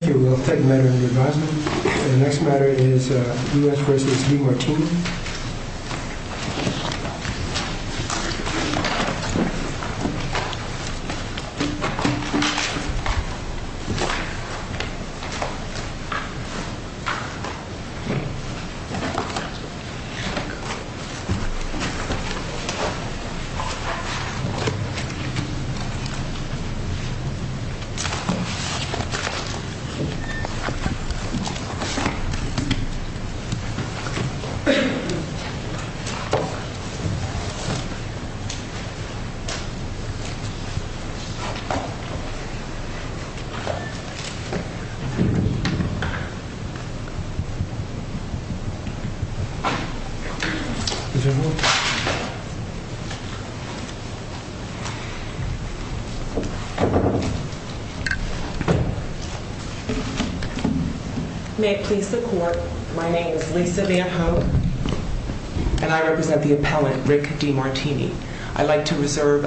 The next matter is U.S. v. Demartini. The next matter is U.S. v. Demartini. May it please the court, my name is Lisa Van Ho, and I represent the appellant Rick Demartini. I'd like to reserve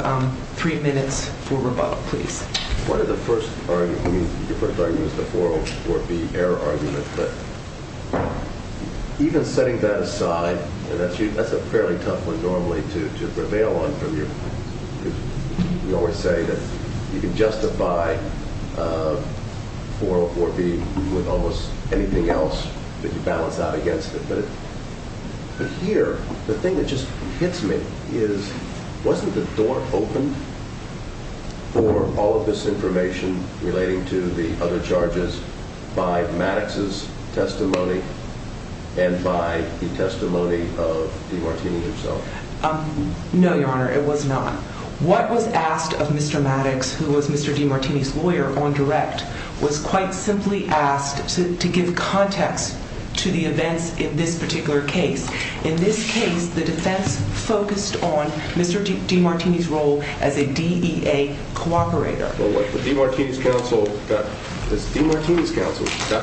three minutes for rebuttal, please. One of the first arguments, I mean, your first argument is the 404B error argument, but even setting that aside, and that's a fairly tough one normally to prevail on from your, you always say that you can justify 404B with almost anything else that you balance out against it, but here, the thing that just hits me is, wasn't the door opened for all of this information relating to the other charges by Maddox's testimony and by the testimony of Demartini himself? No, Your Honor, it was not. What was asked of Mr. Maddox, who was Mr. Demartini's lawyer on direct, was quite simply asked to give context to the events in this particular case. In this case, the defense focused on Mr. Demartini's role as a DEA cooperator. Well, what the Demartini's counsel got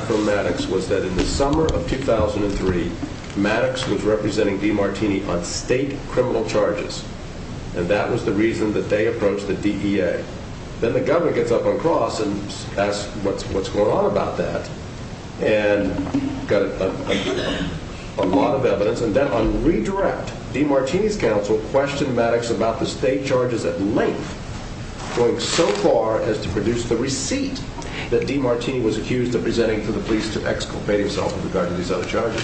from Maddox was that in the summer of 2003, Maddox was representing Demartini on state criminal charges, and that was the reason that they approached the DEA. Then the governor gets up on cross and asks what's going on about that, and got a lot of evidence, and then on redirect, Demartini's counsel questioned Maddox about the state charges at length, going so far as to produce the receipt that Demartini was accused of presenting to the police to exculpate himself in regard to these other charges.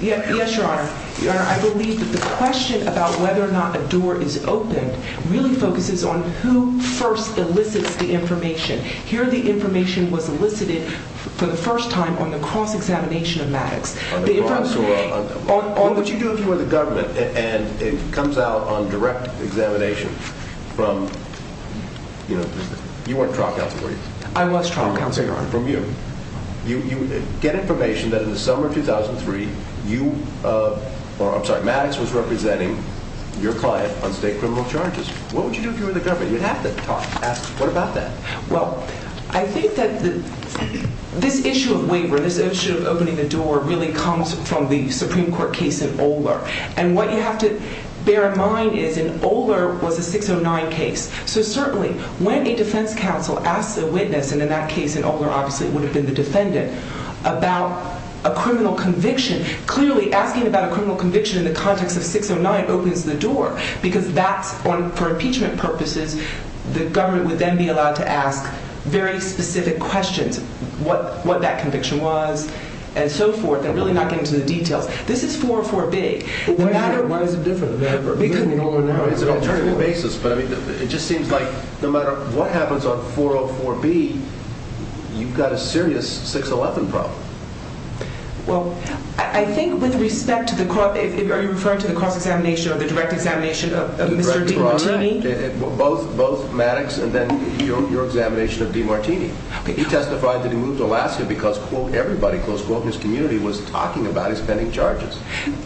Yes, Your Honor. Your Honor, I believe that the question about whether or not a door is opened really focuses on who first elicits the information. Here, the information was elicited for the first time on the cross-examination of Maddox. On what you do for the government, and it comes out on direct examination from, you know, you weren't trial counsel, were you? I was trial counsel, Your Honor. That's different from you. You get information that in the summer of 2003, you, or I'm sorry, Maddox was representing your client on state criminal charges. What would you do if you were in the government? You'd have to talk, ask what about that. Well, I think that this issue of waiver, this issue of opening the door, really comes from the Supreme Court case in Oler, and what you have to bear in mind is in Oler was a 609 case, so certainly when a defense counsel asks a witness, and in that case in Oler obviously it would have been the defendant, about a criminal conviction, clearly asking about a criminal conviction in the context of 609 opens the door because that's, for impeachment purposes, the government would then be allowed to ask very specific questions, what that conviction was, and so forth, and really not get into the details. This is 404B. Why is it different than ever? It's an attorney basis, but it just seems like no matter what happens on 404B, you've got a serious 611 problem. Well, I think with respect to the, are you referring to the cross-examination or the direct examination of Mr. DiMartini? Both Maddox and then your examination of DiMartini. He testified that he moved to Alaska because, quote, everybody, close quote, in his community was talking about his pending charges.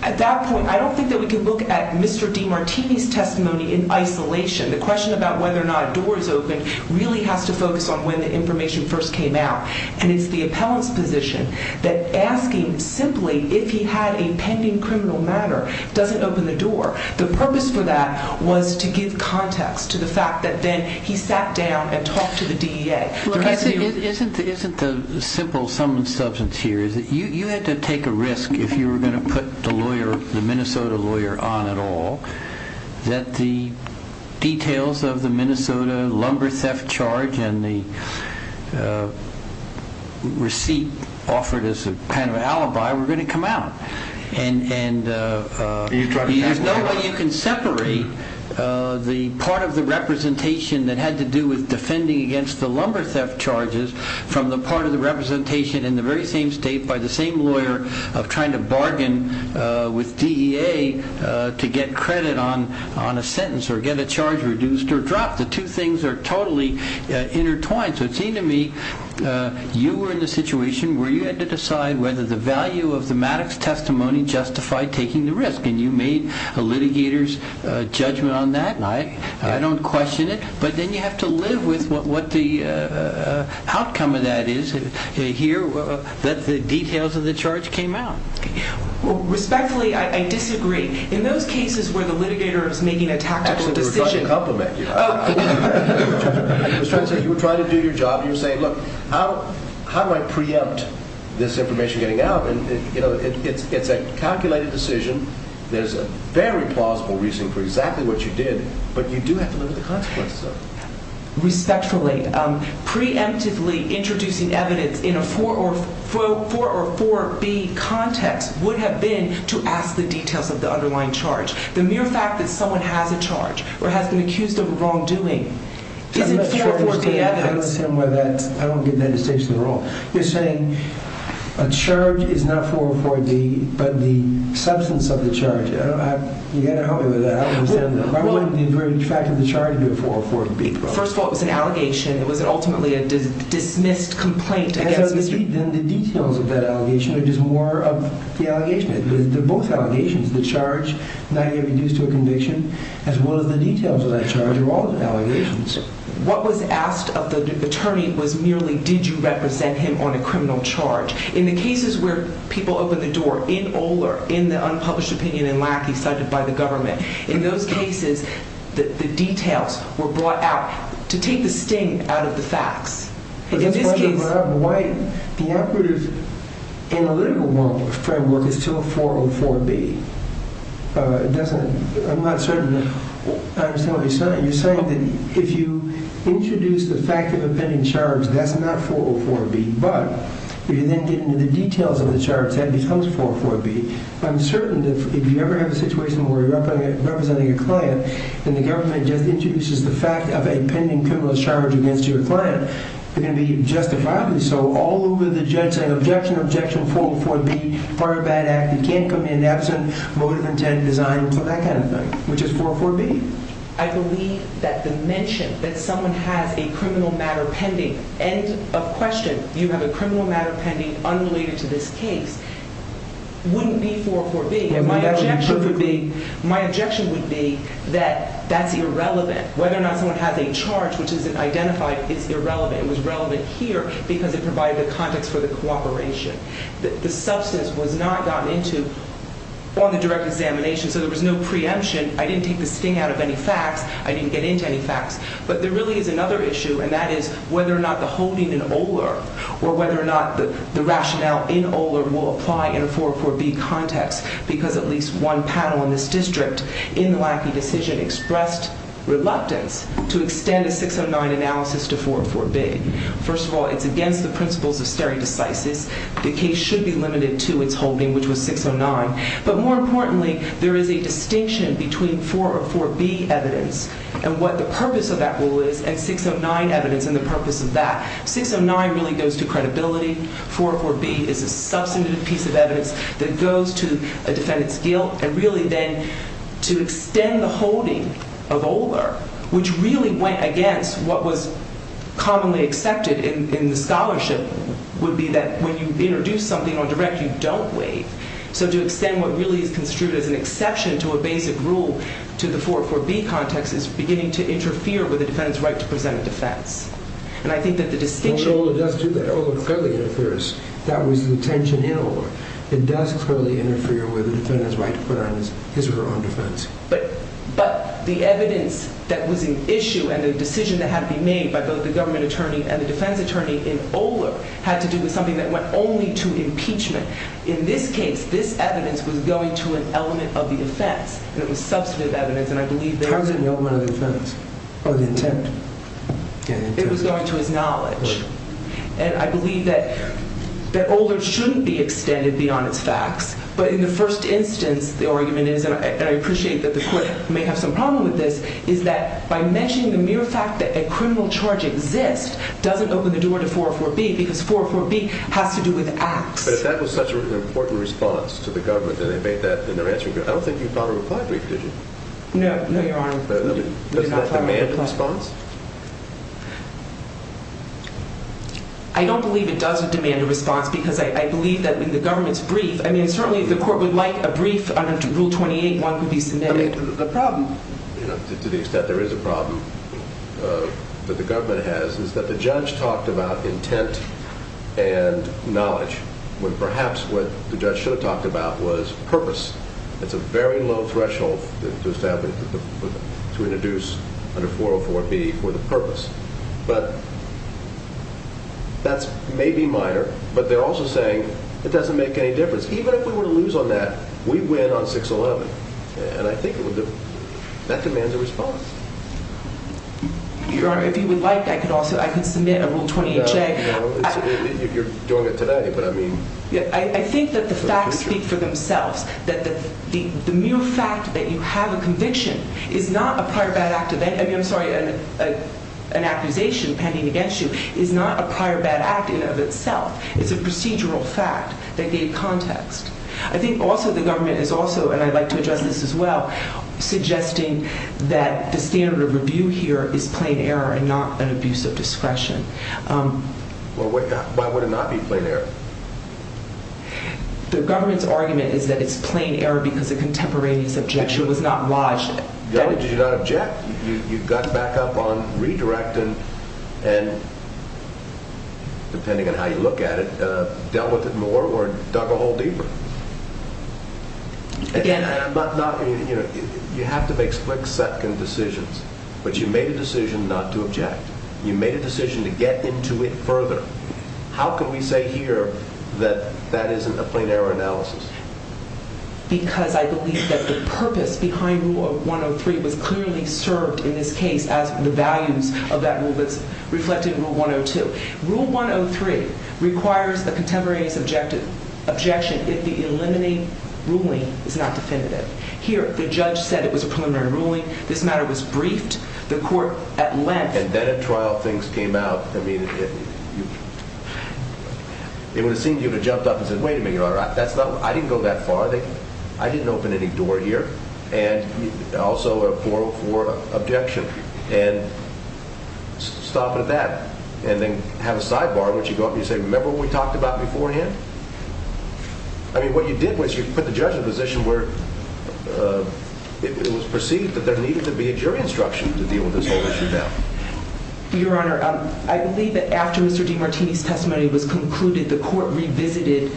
At that point, I don't think that we can look at Mr. DiMartini's testimony in isolation. The question about whether or not a door is open really has to focus on when the information first came out, and it's the appellant's position that asking simply if he had a pending criminal matter doesn't open the door. The purpose for that was to give context to the fact that then he sat down and talked to the DEA. Isn't the simple sum and substance here is that you had to take a risk if you were going to put the lawyer, the Minnesota lawyer, on at all, that the details of the Minnesota lumber theft charge and the receipt offered as a kind of alibi were going to come out. And there's no way you can separate the part of the representation that had to do with defending against the lumber theft charges from the part of the representation in the very same state by the same lawyer of trying to bargain with DEA to get credit on a sentence or get a charge reduced or dropped. The two things are totally intertwined. So it seemed to me you were in the situation where you had to decide whether the value of the Maddox testimony justified taking the risk, and you made a litigator's judgment on that. I don't question it, but then you have to live with what the outcome of that is here that the details of the charge came out. Respectfully, I disagree. In those cases where the litigator is making a tactical decision... Actually, we were trying to compliment you. You were trying to do your job, and you were saying, look, how do I preempt this information getting out? It's a calculated decision. There's a very plausible reason for exactly what you did, but you do have to live with the consequences of it. Respectfully, preemptively introducing evidence in a 4 or 4B context would have been to ask the details of the underlying charge. The mere fact that someone has a charge or has been accused of a wrongdoing isn't 4 or 4B evidence. I don't get that distinction at all. You're saying a charge is not 4 or 4B, but the substance of the charge. You've got to help me with that. The fact of the charge being 4 or 4B. First of all, it was an allegation. It was ultimately a dismissed complaint against Mr. Then the details of that allegation are just more of the allegations. They're both allegations. The charge, not even used to a conviction, as well as the details of that charge are all allegations. What was asked of the attorney was merely, did you represent him on a criminal charge? In the cases where people open the door, in Oler, in the unpublished opinion in Lackey cited by the government, in those cases, the details were brought out to take the sting out of the facts. In this case... The operative analytical framework is still 4 or 4B. I'm not certain I understand what you're saying. You're saying that if you introduce the fact of a pending charge, that's not 4 or 4B, but if you then get into the details of the charge, that becomes 4 or 4B. I'm certain that if you ever have a situation where you're representing a client, and the government just introduces the fact of a pending criminal charge against your client, they're going to be justifiably so all over the judge saying, objection, objection, 4 or 4B, part of that act, it can't come in absent, motive, intent, design, that kind of thing, which is 4 or 4B. I believe that the mention that someone has a criminal matter pending, end of question, you have a criminal matter pending unrelated to this case, wouldn't be 4 or 4B. My objection would be that that's irrelevant. Whether or not someone has a charge which isn't identified is irrelevant. It was relevant here because it provided the context for the cooperation. The substance was not gotten into on the direct examination, so there was no preemption. I didn't take the sting out of any facts. I didn't get into any facts. Or whether or not the rationale in Oler will apply in a 4 or 4B context because at least one panel in this district in the Lackey decision expressed reluctance to extend a 609 analysis to 4 or 4B. First of all, it's against the principles of stare decisis. The case should be limited to its holding, which was 609. But more importantly, there is a distinction between 4 or 4B evidence and what the purpose of that rule is, and 609 evidence and the purpose of that. 609 really goes to credibility. 4 or 4B is a substantive piece of evidence that goes to a defendant's guilt. And really then to extend the holding of Oler, which really went against what was commonly accepted in the scholarship, would be that when you introduce something on direct, you don't waive. So to extend what really is construed as an exception to a basic rule to the 4 or 4B context is beginning to interfere with the defendant's right to present a defense. And I think that the distinction... But Oler does do that. Oler clearly interferes. That was the intention in Oler. It does clearly interfere with the defendant's right to put on his or her own defense. But the evidence that was in issue and the decision that had to be made by both the government attorney and the defense attorney in Oler had to do with something that went only to impeachment. In this case, this evidence was going to an element of the offense, and it was substantive evidence, and I believe that... How is it an element of the offense? Oh, the intent. It was going to his knowledge. And I believe that Oler shouldn't be extended beyond its facts. But in the first instance, the argument is, and I appreciate that the court may have some problem with this, is that by mentioning the mere fact that a criminal charge exists doesn't open the door to 4 or 4B, because 4 or 4B has to do with acts. But that was such an important response to the government that they made that in their answer. I don't think you got a reply brief, did you? No, no, Your Honor. Doesn't that demand a response? I don't believe it does demand a response because I believe that in the government's brief... I mean, certainly the court would like a brief under Rule 28, one could be submitted. The problem, to the extent there is a problem that the government has, is that the judge talked about intent and knowledge, when perhaps what the judge should have talked about was purpose. It's a very low threshold to introduce under 4 or 4B for the purpose. But that's maybe minor, but they're also saying it doesn't make any difference. Even if we were to lose on that, we win on 611. And I think that demands a response. Your Honor, if you would like, I could submit a Rule 28 check. You're doing it today, but I mean... I think that the facts speak for themselves, that the mere fact that you have a conviction is not a prior bad act of... I mean, I'm sorry, an accusation pending against you is not a prior bad act in and of itself. It's a procedural fact that gave context. I think also the government is also, and I'd like to address this as well, suggesting that the standard of review here is plain error and not an abuse of discretion. Well, why would it not be plain error? The government's argument is that it's plain error because the contemporaneous objection was not lodged. Your Honor, did you not object? You got back up on redirecting and, depending on how you look at it, dealt with it more or dug a hole deeper. Again... You have to make split-second decisions, but you made a decision not to object. You made a decision to get into it further. How can we say here that that isn't a plain error analysis? Because I believe that the purpose behind Rule 103 was clearly served in this case as the values of that rule that's reflected in Rule 102. Rule 103 requires a contemporaneous objection if the eliminating ruling is not definitive. Here, the judge said it was a preliminary ruling. This matter was briefed. The court, at length... It would have seemed you would have jumped up and said, Wait a minute, Your Honor, I didn't go that far. I didn't open any door here. And also a 404 objection. And stop it at that. And then have a sidebar in which you go up and say, Remember what we talked about beforehand? I mean, what you did was you put the judge in a position where it was perceived that there needed to be a jury instruction to deal with this whole issue now. Your Honor, I believe that after Mr. DiMartini's testimony was concluded, the court revisited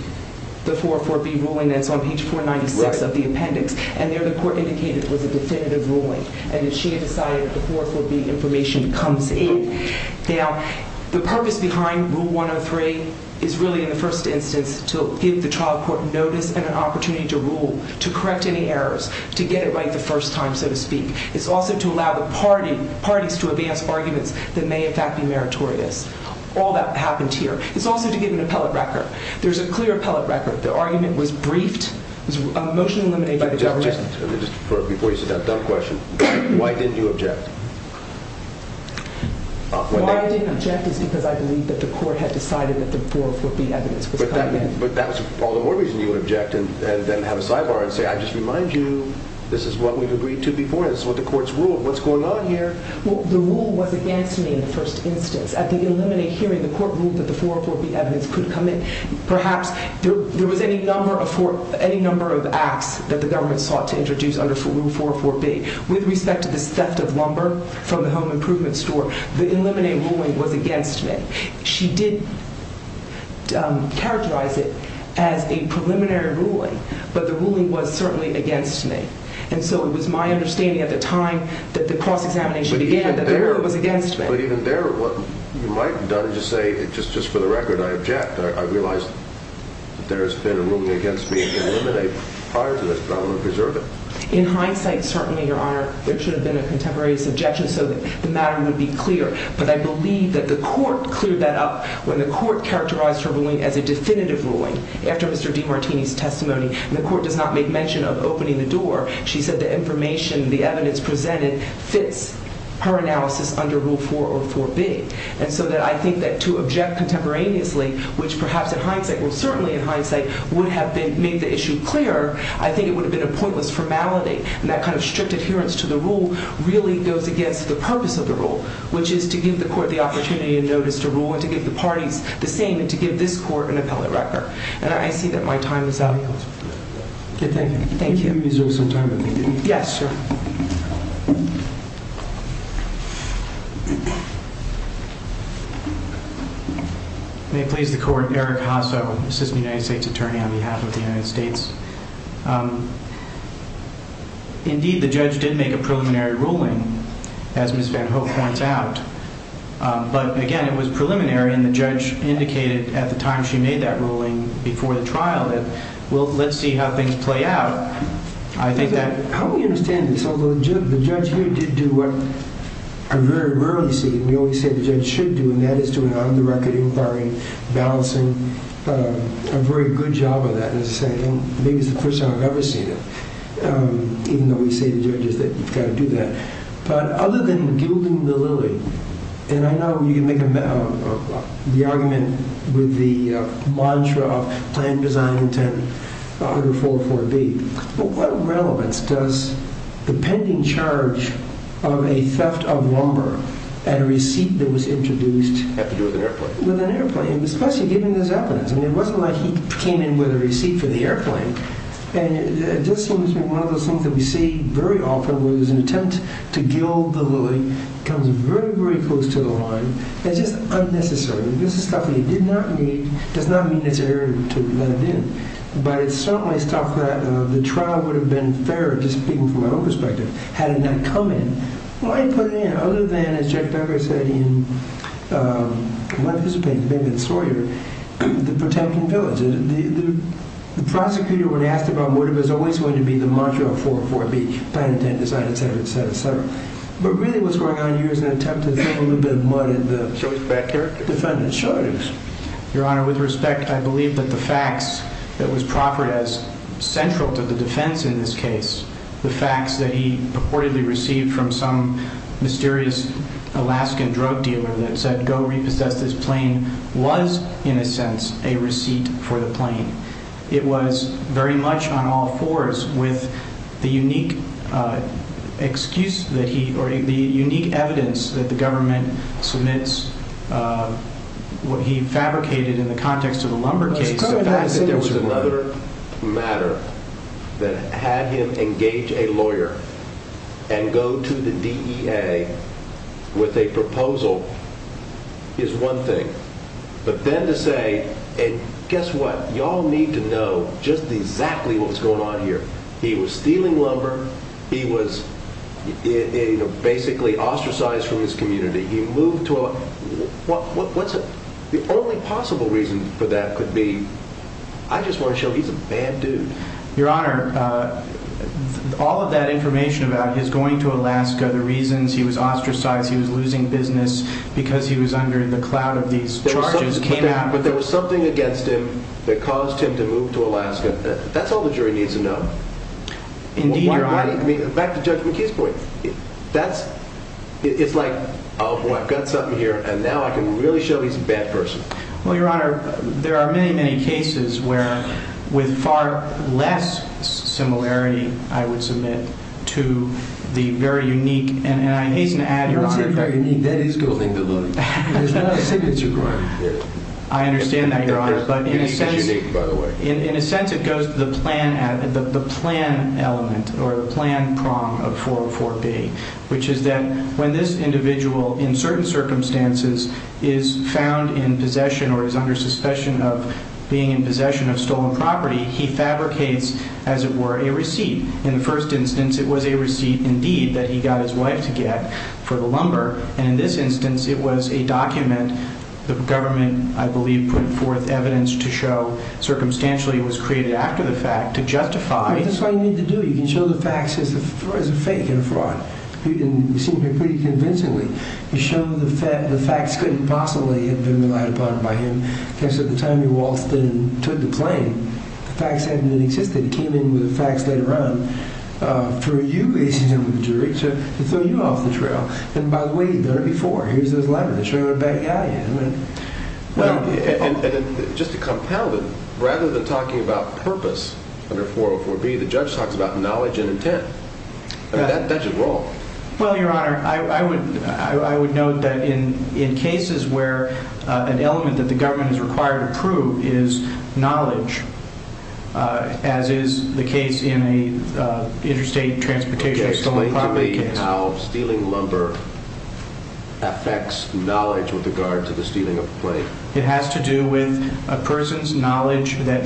the 404B ruling that's on page 496 of the appendix. And there, the court indicated it was a definitive ruling. And that she had decided the 404B information comes in. Now, the purpose behind Rule 103 is really, in the first instance, to give the trial court notice and an opportunity to rule, to correct any errors, to get it right the first time, so to speak. It's also to allow the parties to advance arguments that may, in fact, be meritorious. All that happened here. It's also to give an appellate record. There's a clear appellate record. The argument was briefed. It was a motion eliminated by the government. Before you say that dumb question, why didn't you object? Why I didn't object is because I believe that the court had decided that the 404B evidence was coming in. But that was all the more reason you would object and then have a sidebar and say, I just remind you, this is what we've agreed to before. This is what the court's ruled. What's going on here? Well, the rule was against me in the first instance. At the eliminate hearing, the court ruled that the 404B evidence could come in. Perhaps there was any number of acts that the government sought to introduce under Rule 404B. With respect to this theft of lumber from the home improvement store, the eliminate ruling was against me. She did characterize it as a preliminary ruling, but the ruling was certainly against me. And so it was my understanding at the time that the cross-examination began that the ruling was against me. But even there, what you might have done is just say, just for the record, I object. I realize that there has been a ruling against me in the eliminate prior to this, but I want to preserve it. In hindsight, certainly, Your Honor, there should have been a contemporaneous objection so that the matter would be clear. But I believe that the court cleared that up when the court characterized her ruling as a definitive ruling after Mr. DiMartini's testimony. And the court does not make mention of opening the door. She said the information, the evidence presented, fits her analysis under Rule 404B. And so I think that to object contemporaneously, which perhaps in hindsight, well, certainly in hindsight, would have made the issue clearer, I think it would have been a pointless formality. And that kind of strict adherence to the rule really goes against the purpose of the rule, which is to give the court the opportunity to notice the rule and to give the parties the same and to give this court an appellate record. And I see that my time is up. Okay, thank you. Thank you. I'm going to reserve some time if I can. Yes, sir. May it please the court, Eric Hasso, assistant United States attorney on behalf of the United States. Indeed, the judge did make a preliminary ruling, as Ms. Van Ho points out. But again, it was preliminary, and the judge indicated at the time she made that ruling before the trial that, well, let's see how things play out. I think that... How do we understand this? Although the judge here did do what I very rarely see, and we always say the judge should do, and that is doing on-the-record inquiring, balancing, a very good job of that, as I say. Maybe it's the first time I've ever seen it, even though we say to judges that you've got to do that. But other than gilding the lily, and I know you make the argument with the mantra of plan, design, intent, under 4.4b, but what relevance does the pending charge of a theft of lumber and a receipt that was introduced... Have to do with an airplane. With an airplane, especially given this evidence. I mean, it wasn't like he came in with a receipt for the airplane. And it just seems to me one of those things that we see very often where there's an attempt to gild the lily comes very, very close to the line. It's just unnecessary. This is stuff that he did not need. It does not mean it's erroneous to let it in. But it's certainly stuff that the trial would have been fairer, just speaking from my own perspective, had it not come in. Why put it in other than, as Judge Becker said, in my participation, Bingman-Sawyer, the protecting village? The prosecutor, when asked about what it was always going to be, the mantra of 4.4b, plan, intent, design, et cetera, et cetera, et cetera. But really what's going on here is an attempt to throw a little bit of mud in the Judge Becker defendant's shoulders. Your Honor, with respect, I believe that the facts that was proffered as central to the defense in this case, the facts that he purportedly received from some mysterious Alaskan drug dealer that said go repossess this plane, was, in a sense, a receipt for the plane. It was very much on all fours with the unique excuse that he, or the unique evidence that the government submits, what he fabricated in the context of the lumber case. The fact that there was another matter that had him engage a lawyer and go to the DEA with a proposal is one thing. But then to say, and guess what, y'all need to know just exactly what was going on here. He was stealing lumber. He was basically ostracized from his community. He moved to Alaska. The only possible reason for that could be, I just want to show he's a bad dude. Your Honor, all of that information about his going to Alaska, the reasons he was ostracized, he was losing business, because he was under the cloud of these charges came out. But there was something against him that caused him to move to Alaska. That's all the jury needs to know. Indeed, Your Honor. Back to Judge McKee's point. It's like, oh boy, I've got something here, and now I can really show he's a bad person. Well, Your Honor, there are many, many cases where with far less similarity, I would submit, to the very unique, and I hasten to add, Your Honor. You don't say very unique. That is good. There's not a signature crime here. I understand that, Your Honor, but in a sense it goes to the plan element or the plan prong of 404B, which is that when this individual, in certain circumstances, is found in possession or is under suspicion of being in possession of stolen property, he fabricates, as it were, a receipt. In the first instance, it was a receipt, indeed, that he got his wife to get for the lumber. And in this instance, it was a document. The government, I believe, put forth evidence to show, circumstantially, it was created after the fact to justify. That's all you need to do. You can show the facts as a fake and a fraud. You seem to be pretty convincingly. You show the facts couldn't possibly have been relied upon by him because at the time he waltzed in and took the plane, the facts hadn't even existed. He came in with the facts later on for you, ladies and gentlemen of the jury, to throw you off the trail. And by the way, you've done it before. Here's this letter. Let's show you what a bad guy you are. And just to compound it, rather than talking about purpose under 404B, the judge talks about knowledge and intent. That's a brawl. Well, Your Honor, I would note that in cases where an element that the government is required to prove is knowledge, as is the case in an interstate transportation stolen property case. How stealing lumber affects knowledge with regard to the stealing of a plane? It has to do with a person's knowledge that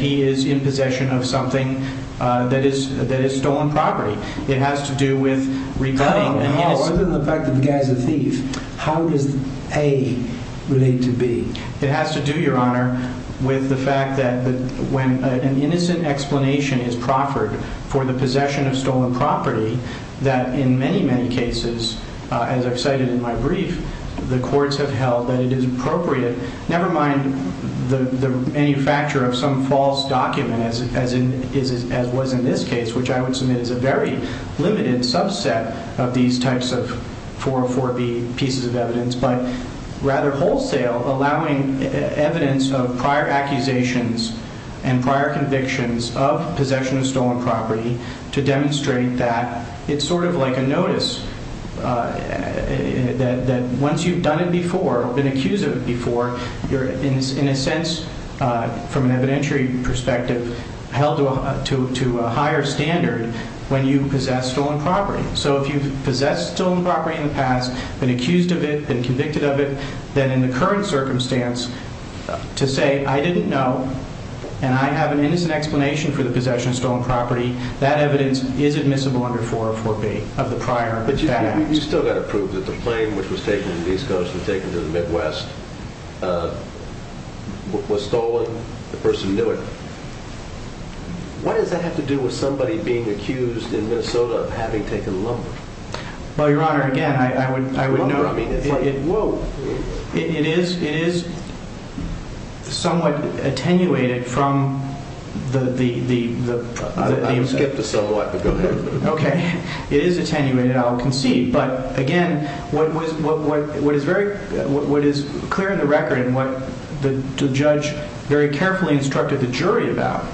he is in possession of something that is stolen property. It has to do with rebutting. Other than the fact that the guy's a thief, how does A relate to B? It has to do, Your Honor, with the fact that when an innocent explanation is proffered for the possession of stolen property, that in many, many cases, as I've cited in my brief, the courts have held that it is appropriate, never mind the manufacture of some false document, as was in this case, which I would submit is a very limited subset of these types of 404B pieces of evidence, but rather wholesale, allowing evidence of prior accusations and prior convictions of possession of stolen property to demonstrate that it's sort of like a notice, that once you've done it before, been accused of it before, you're, in a sense, from an evidentiary perspective, held to a higher standard when you possess stolen property. So if you've possessed stolen property in the past, been accused of it, been convicted of it, then in the current circumstance, to say, I didn't know, and I have an innocent explanation for the possession of stolen property, that evidence is admissible under 404B of the prior act. But you've still got to prove that the plane which was taken to the East Coast and taken to the Midwest was stolen. The person knew it. What does that have to do with somebody being accused in Minnesota of having taken lumber? Well, Your Honor, again, I would note... It is somewhat attenuated from the... Skip the somewhat, but go ahead. Okay. It is attenuated, I'll concede. But, again, what is clear in the record and what the judge very carefully instructed the jury about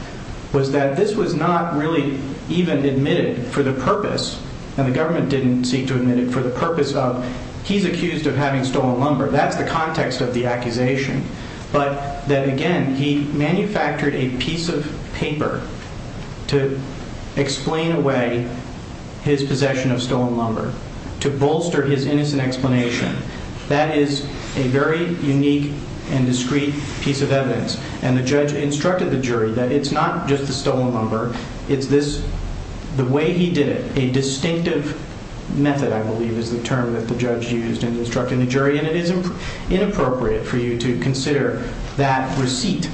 was that this was not really even admitted for the purpose, and the government didn't seek to admit it, for the purpose of he's accused of having stolen lumber. That's the context of the accusation. But that, again, he manufactured a piece of paper to explain away his possession of stolen lumber, to bolster his innocent explanation. That is a very unique and discreet piece of evidence, and the judge instructed the jury that it's not just the stolen lumber, it's this... The way he did it, a distinctive method, I believe, is the term that the judge used in instructing the jury, and it is inappropriate for you to consider that receipt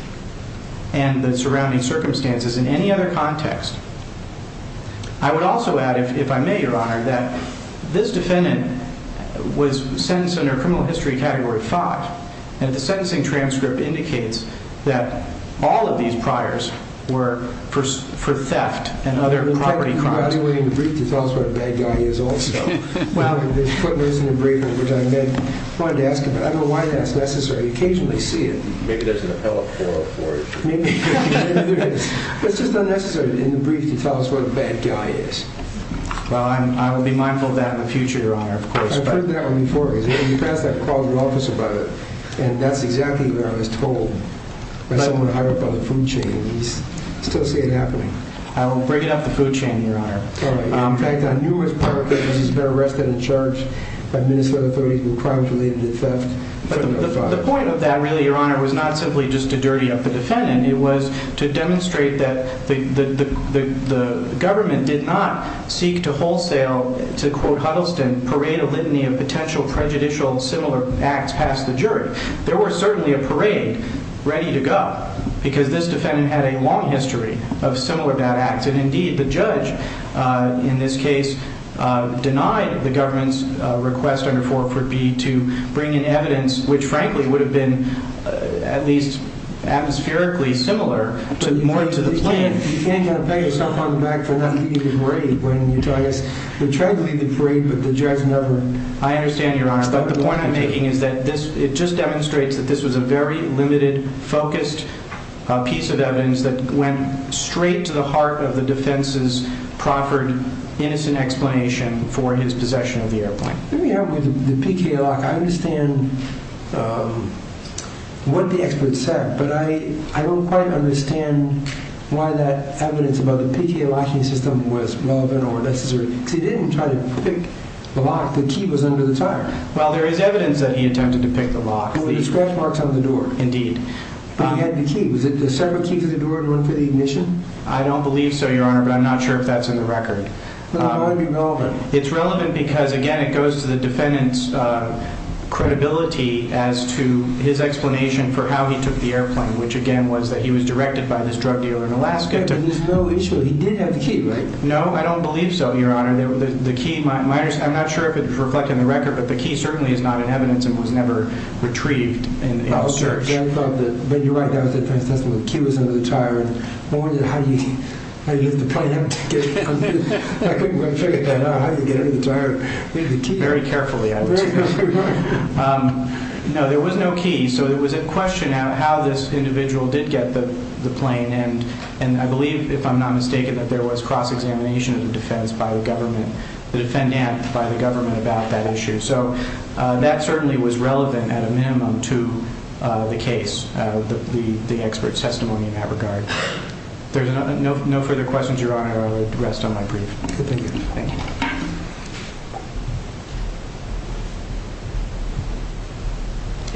and the surrounding circumstances in any other context. I would also add, if I may, Your Honor, that this defendant was sentenced under criminal history category 5, and the sentencing transcript indicates that all of these priors were for theft and other property crimes. I don't want you in the brief to tell us what a bad guy he is also. There's footnotes in the brief, which I wanted to ask about. I don't know why that's necessary. You occasionally see it. Maybe there's an appellate forum for it. Maybe there is. It's just unnecessary in the brief to tell us what a bad guy he is. Well, I will be mindful of that in the future, Your Honor, of course. I've heard that one before. You passed that call to the office about it, and that's exactly what I was told by someone hired by the food chain, and you still see it happening. I will bring it up the food chain, Your Honor. In fact, on numerous public cases, he's been arrested and charged by Minnesota authorities with crimes related to theft. The point of that, really, Your Honor, was not simply just to dirty up the defendant. It was to demonstrate that the government did not seek to wholesale, to quote Huddleston, parade a litany of potential prejudicial similar acts past the jury. There were certainly a parade ready to go because this defendant had a long history of similar bad acts. And, indeed, the judge in this case denied the government's request under 440 to bring in evidence, which, frankly, would have been at least atmospherically similar to the plaintiff. You can't kind of pat yourself on the back for not leading the parade when you try to lead the parade, but the judge never. I understand, Your Honor, but the point I'm making is that it just demonstrates that this was a very limited, focused piece of evidence that went straight to the heart of the defense's proffered innocent explanation for his possession of the airplane. Let me help with the PTA lock. I understand what the experts said, but I don't quite understand why that evidence about the PTA locking system was relevant or necessary. Because he didn't try to pick the lock. The key was under the tire. Well, there is evidence that he attempted to pick the lock. There were scratch marks on the door. Indeed. But he had the key. Was it a separate key to the door to run for the ignition? I don't believe so, Your Honor, but I'm not sure if that's in the record. Then why would it be relevant? It's relevant because, again, it goes to the defendant's credibility as to his explanation for how he took the airplane, which, again, was that he was directed by this drug dealer in Alaska to... There's no issue. He did have the key, right? No, I don't believe so, Your Honor. The key, I'm not sure if it's reflected in the record, but the key certainly is not in evidence and was never retrieved in the search. But you're right, that was the defense testimony. The key was under the tire. I wondered how he left the plane empty. I couldn't figure out how he could get it in the tire. Very carefully, I would say. No, there was no key, so it was a question of how this individual did get the plane. And I believe, if I'm not mistaken, that there was cross-examination of the defense by the government, the defendant by the government about that issue. So that certainly was relevant, at a minimum, to the case, the expert's testimony in that regard. There's no further questions, Your Honor. I would rest on my brief. Thank you.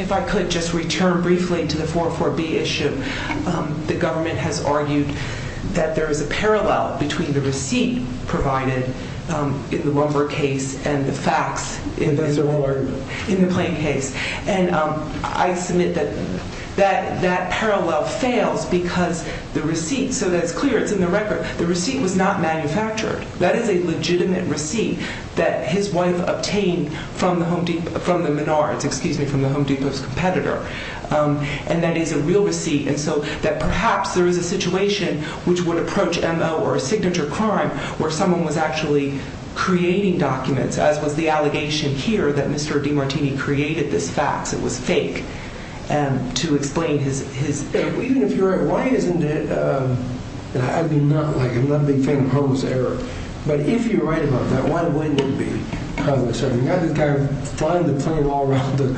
If I could just return briefly to the 404B issue. The government has argued that there is a parallel between the receipt provided in the Rumberg case and the facts in the plane case. And I submit that that parallel fails because the receipt, so that it's clear, it's in the record, the receipt was not manufactured. That is illegal. It is a legitimate receipt that his wife obtained from the Home Depot, from the Menards, excuse me, from the Home Depot's competitor. And that is a real receipt. And so that perhaps there is a situation which would approach M.O. or a signature crime where someone was actually creating documents, as was the allegation here that Mr. DiMartini created this fax. It was fake, to explain his... Even if you're right, why isn't it... I mean, I'm not a big fan of harmless error. But if you're right about that, why wouldn't it be harmless error? You've got this guy flying the plane all around the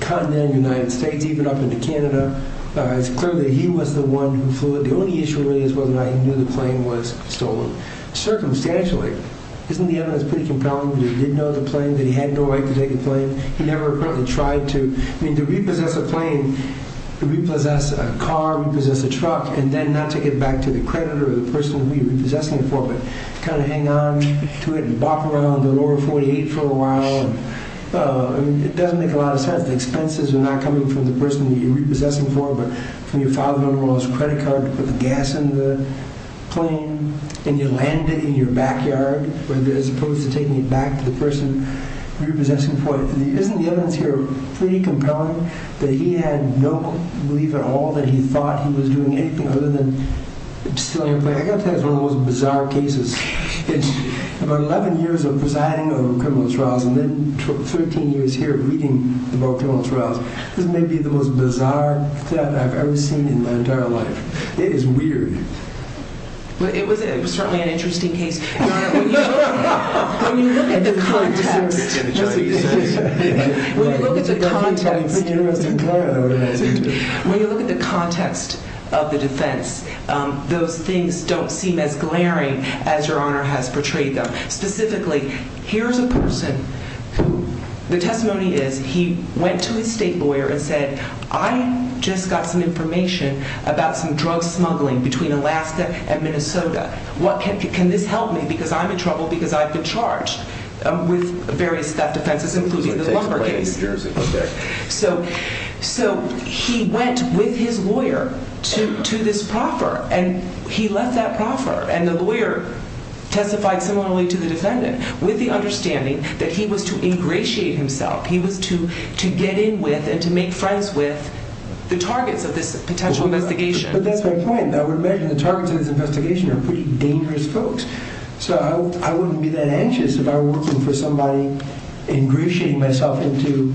continent of the United States, even up into Canada. It's clear that he was the one who flew it. The only issue really is whether or not he knew the plane was stolen. Circumstantially. Isn't the evidence pretty compelling that he did know the plane, that he had no right to take the plane? He never apparently tried to... I mean, to repossess a plane, to repossess a car, repossess a truck, and then not take it back to the creditor or the person who you're repossessing it for, but kind of hang on to it and bop around the lower 48 for a while. It doesn't make a lot of sense. The expenses are not coming from the person you're repossessing it for, but from your father-in-law's credit card to put the gas in the plane, and you land it in your backyard, as opposed to taking it back to the person you're repossessing it for. Isn't the evidence here pretty compelling that he had no belief at all that he thought he was doing anything other than stealing a plane? I've got to tell you, it's one of the most bizarre cases. About 11 years of presiding over criminal trials and then 13 years here reading about criminal trials, this may be the most bizarre theft I've ever seen in my entire life. It is weird. It was certainly an interesting case. When you look at the context of the defense, those things don't seem as glaring as Your Honor has portrayed them. Specifically, here's a person who the testimony is he went to his state lawyer and said, I just got some information about some drug smuggling between Alaska and Minnesota. Can this help me because I'm in trouble because I've been charged with various theft offenses including the lumber case. So he went with his lawyer to this proffer, and he left that proffer, and the lawyer testified similarly to the defendant with the understanding that he was to ingratiate himself. He was to get in with and to make friends with the targets of this potential investigation. But that's my point. I would imagine the targets of this investigation are pretty dangerous folks. So I wouldn't be that anxious if I were looking for somebody ingratiating myself into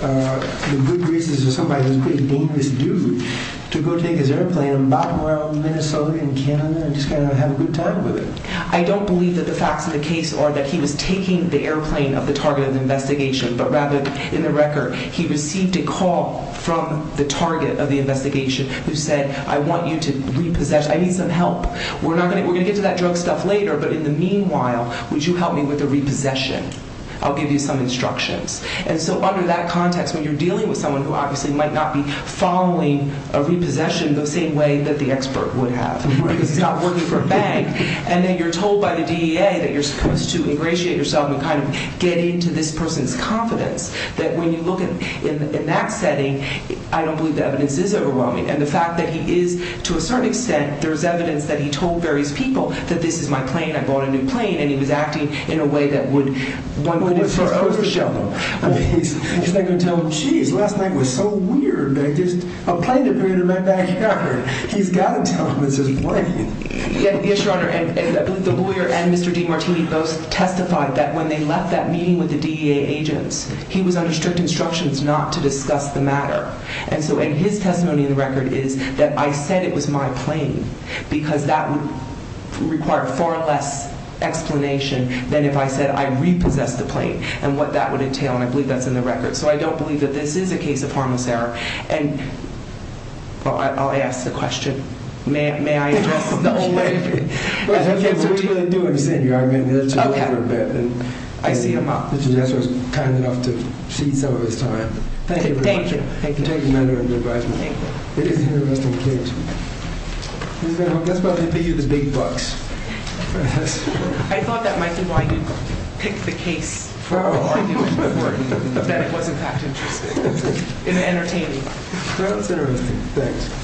the good graces of somebody who's a pretty dangerous dude to go take his airplane and bop him around Minnesota and Canada and just kind of have a good time with it. I don't believe that the facts of the case are that he was taking the airplane of the target of the investigation, but rather in the record, he received a call from the target of the investigation who said, I want you to repossess. I need some help. We're going to get to that drug stuff later, but in the meanwhile, would you help me with the repossession? I'll give you some instructions. And so under that context, when you're dealing with someone who obviously might not be following a repossession the same way that the expert would have because he's not working for a bank, and then you're told by the DEA that you're supposed to ingratiate yourself and kind of get into this person's confidence, that when you look in that setting, I don't believe the evidence is overwhelming. And the fact that he is, to a certain extent, there's evidence that he told various people that this is my plane, I bought a new plane, and he was acting in a way that would one could infer overshadow. He's not going to tell them, geez, last night was so weird that just a plane appeared in my backyard. He's got to tell them it's his plane. Yes, Your Honor, and the lawyer and Mr. DiMartini both testified that when they left that meeting with the DEA agents, he was under strict instructions not to discuss the matter. And so in his testimony in the record is that I said it was my plane because that would require far less explanation than if I said I repossessed the plane and what that would entail, and I believe that's in the record. So I don't believe that this is a case of harmless error. And I'll ask the question. May I address it the old way? We're going to do it, Senior. I mean, let's go over it a bit. I see him up. Mr. Jesser was kind enough to cede some of his time. Thank you very much. Thank you, Your Honor. Thank you. It is an interesting case. That's why they pay you the big bucks. I thought that might be why you picked the case for it, that it was, in fact, interesting and entertaining. Well, it's interesting. Thanks.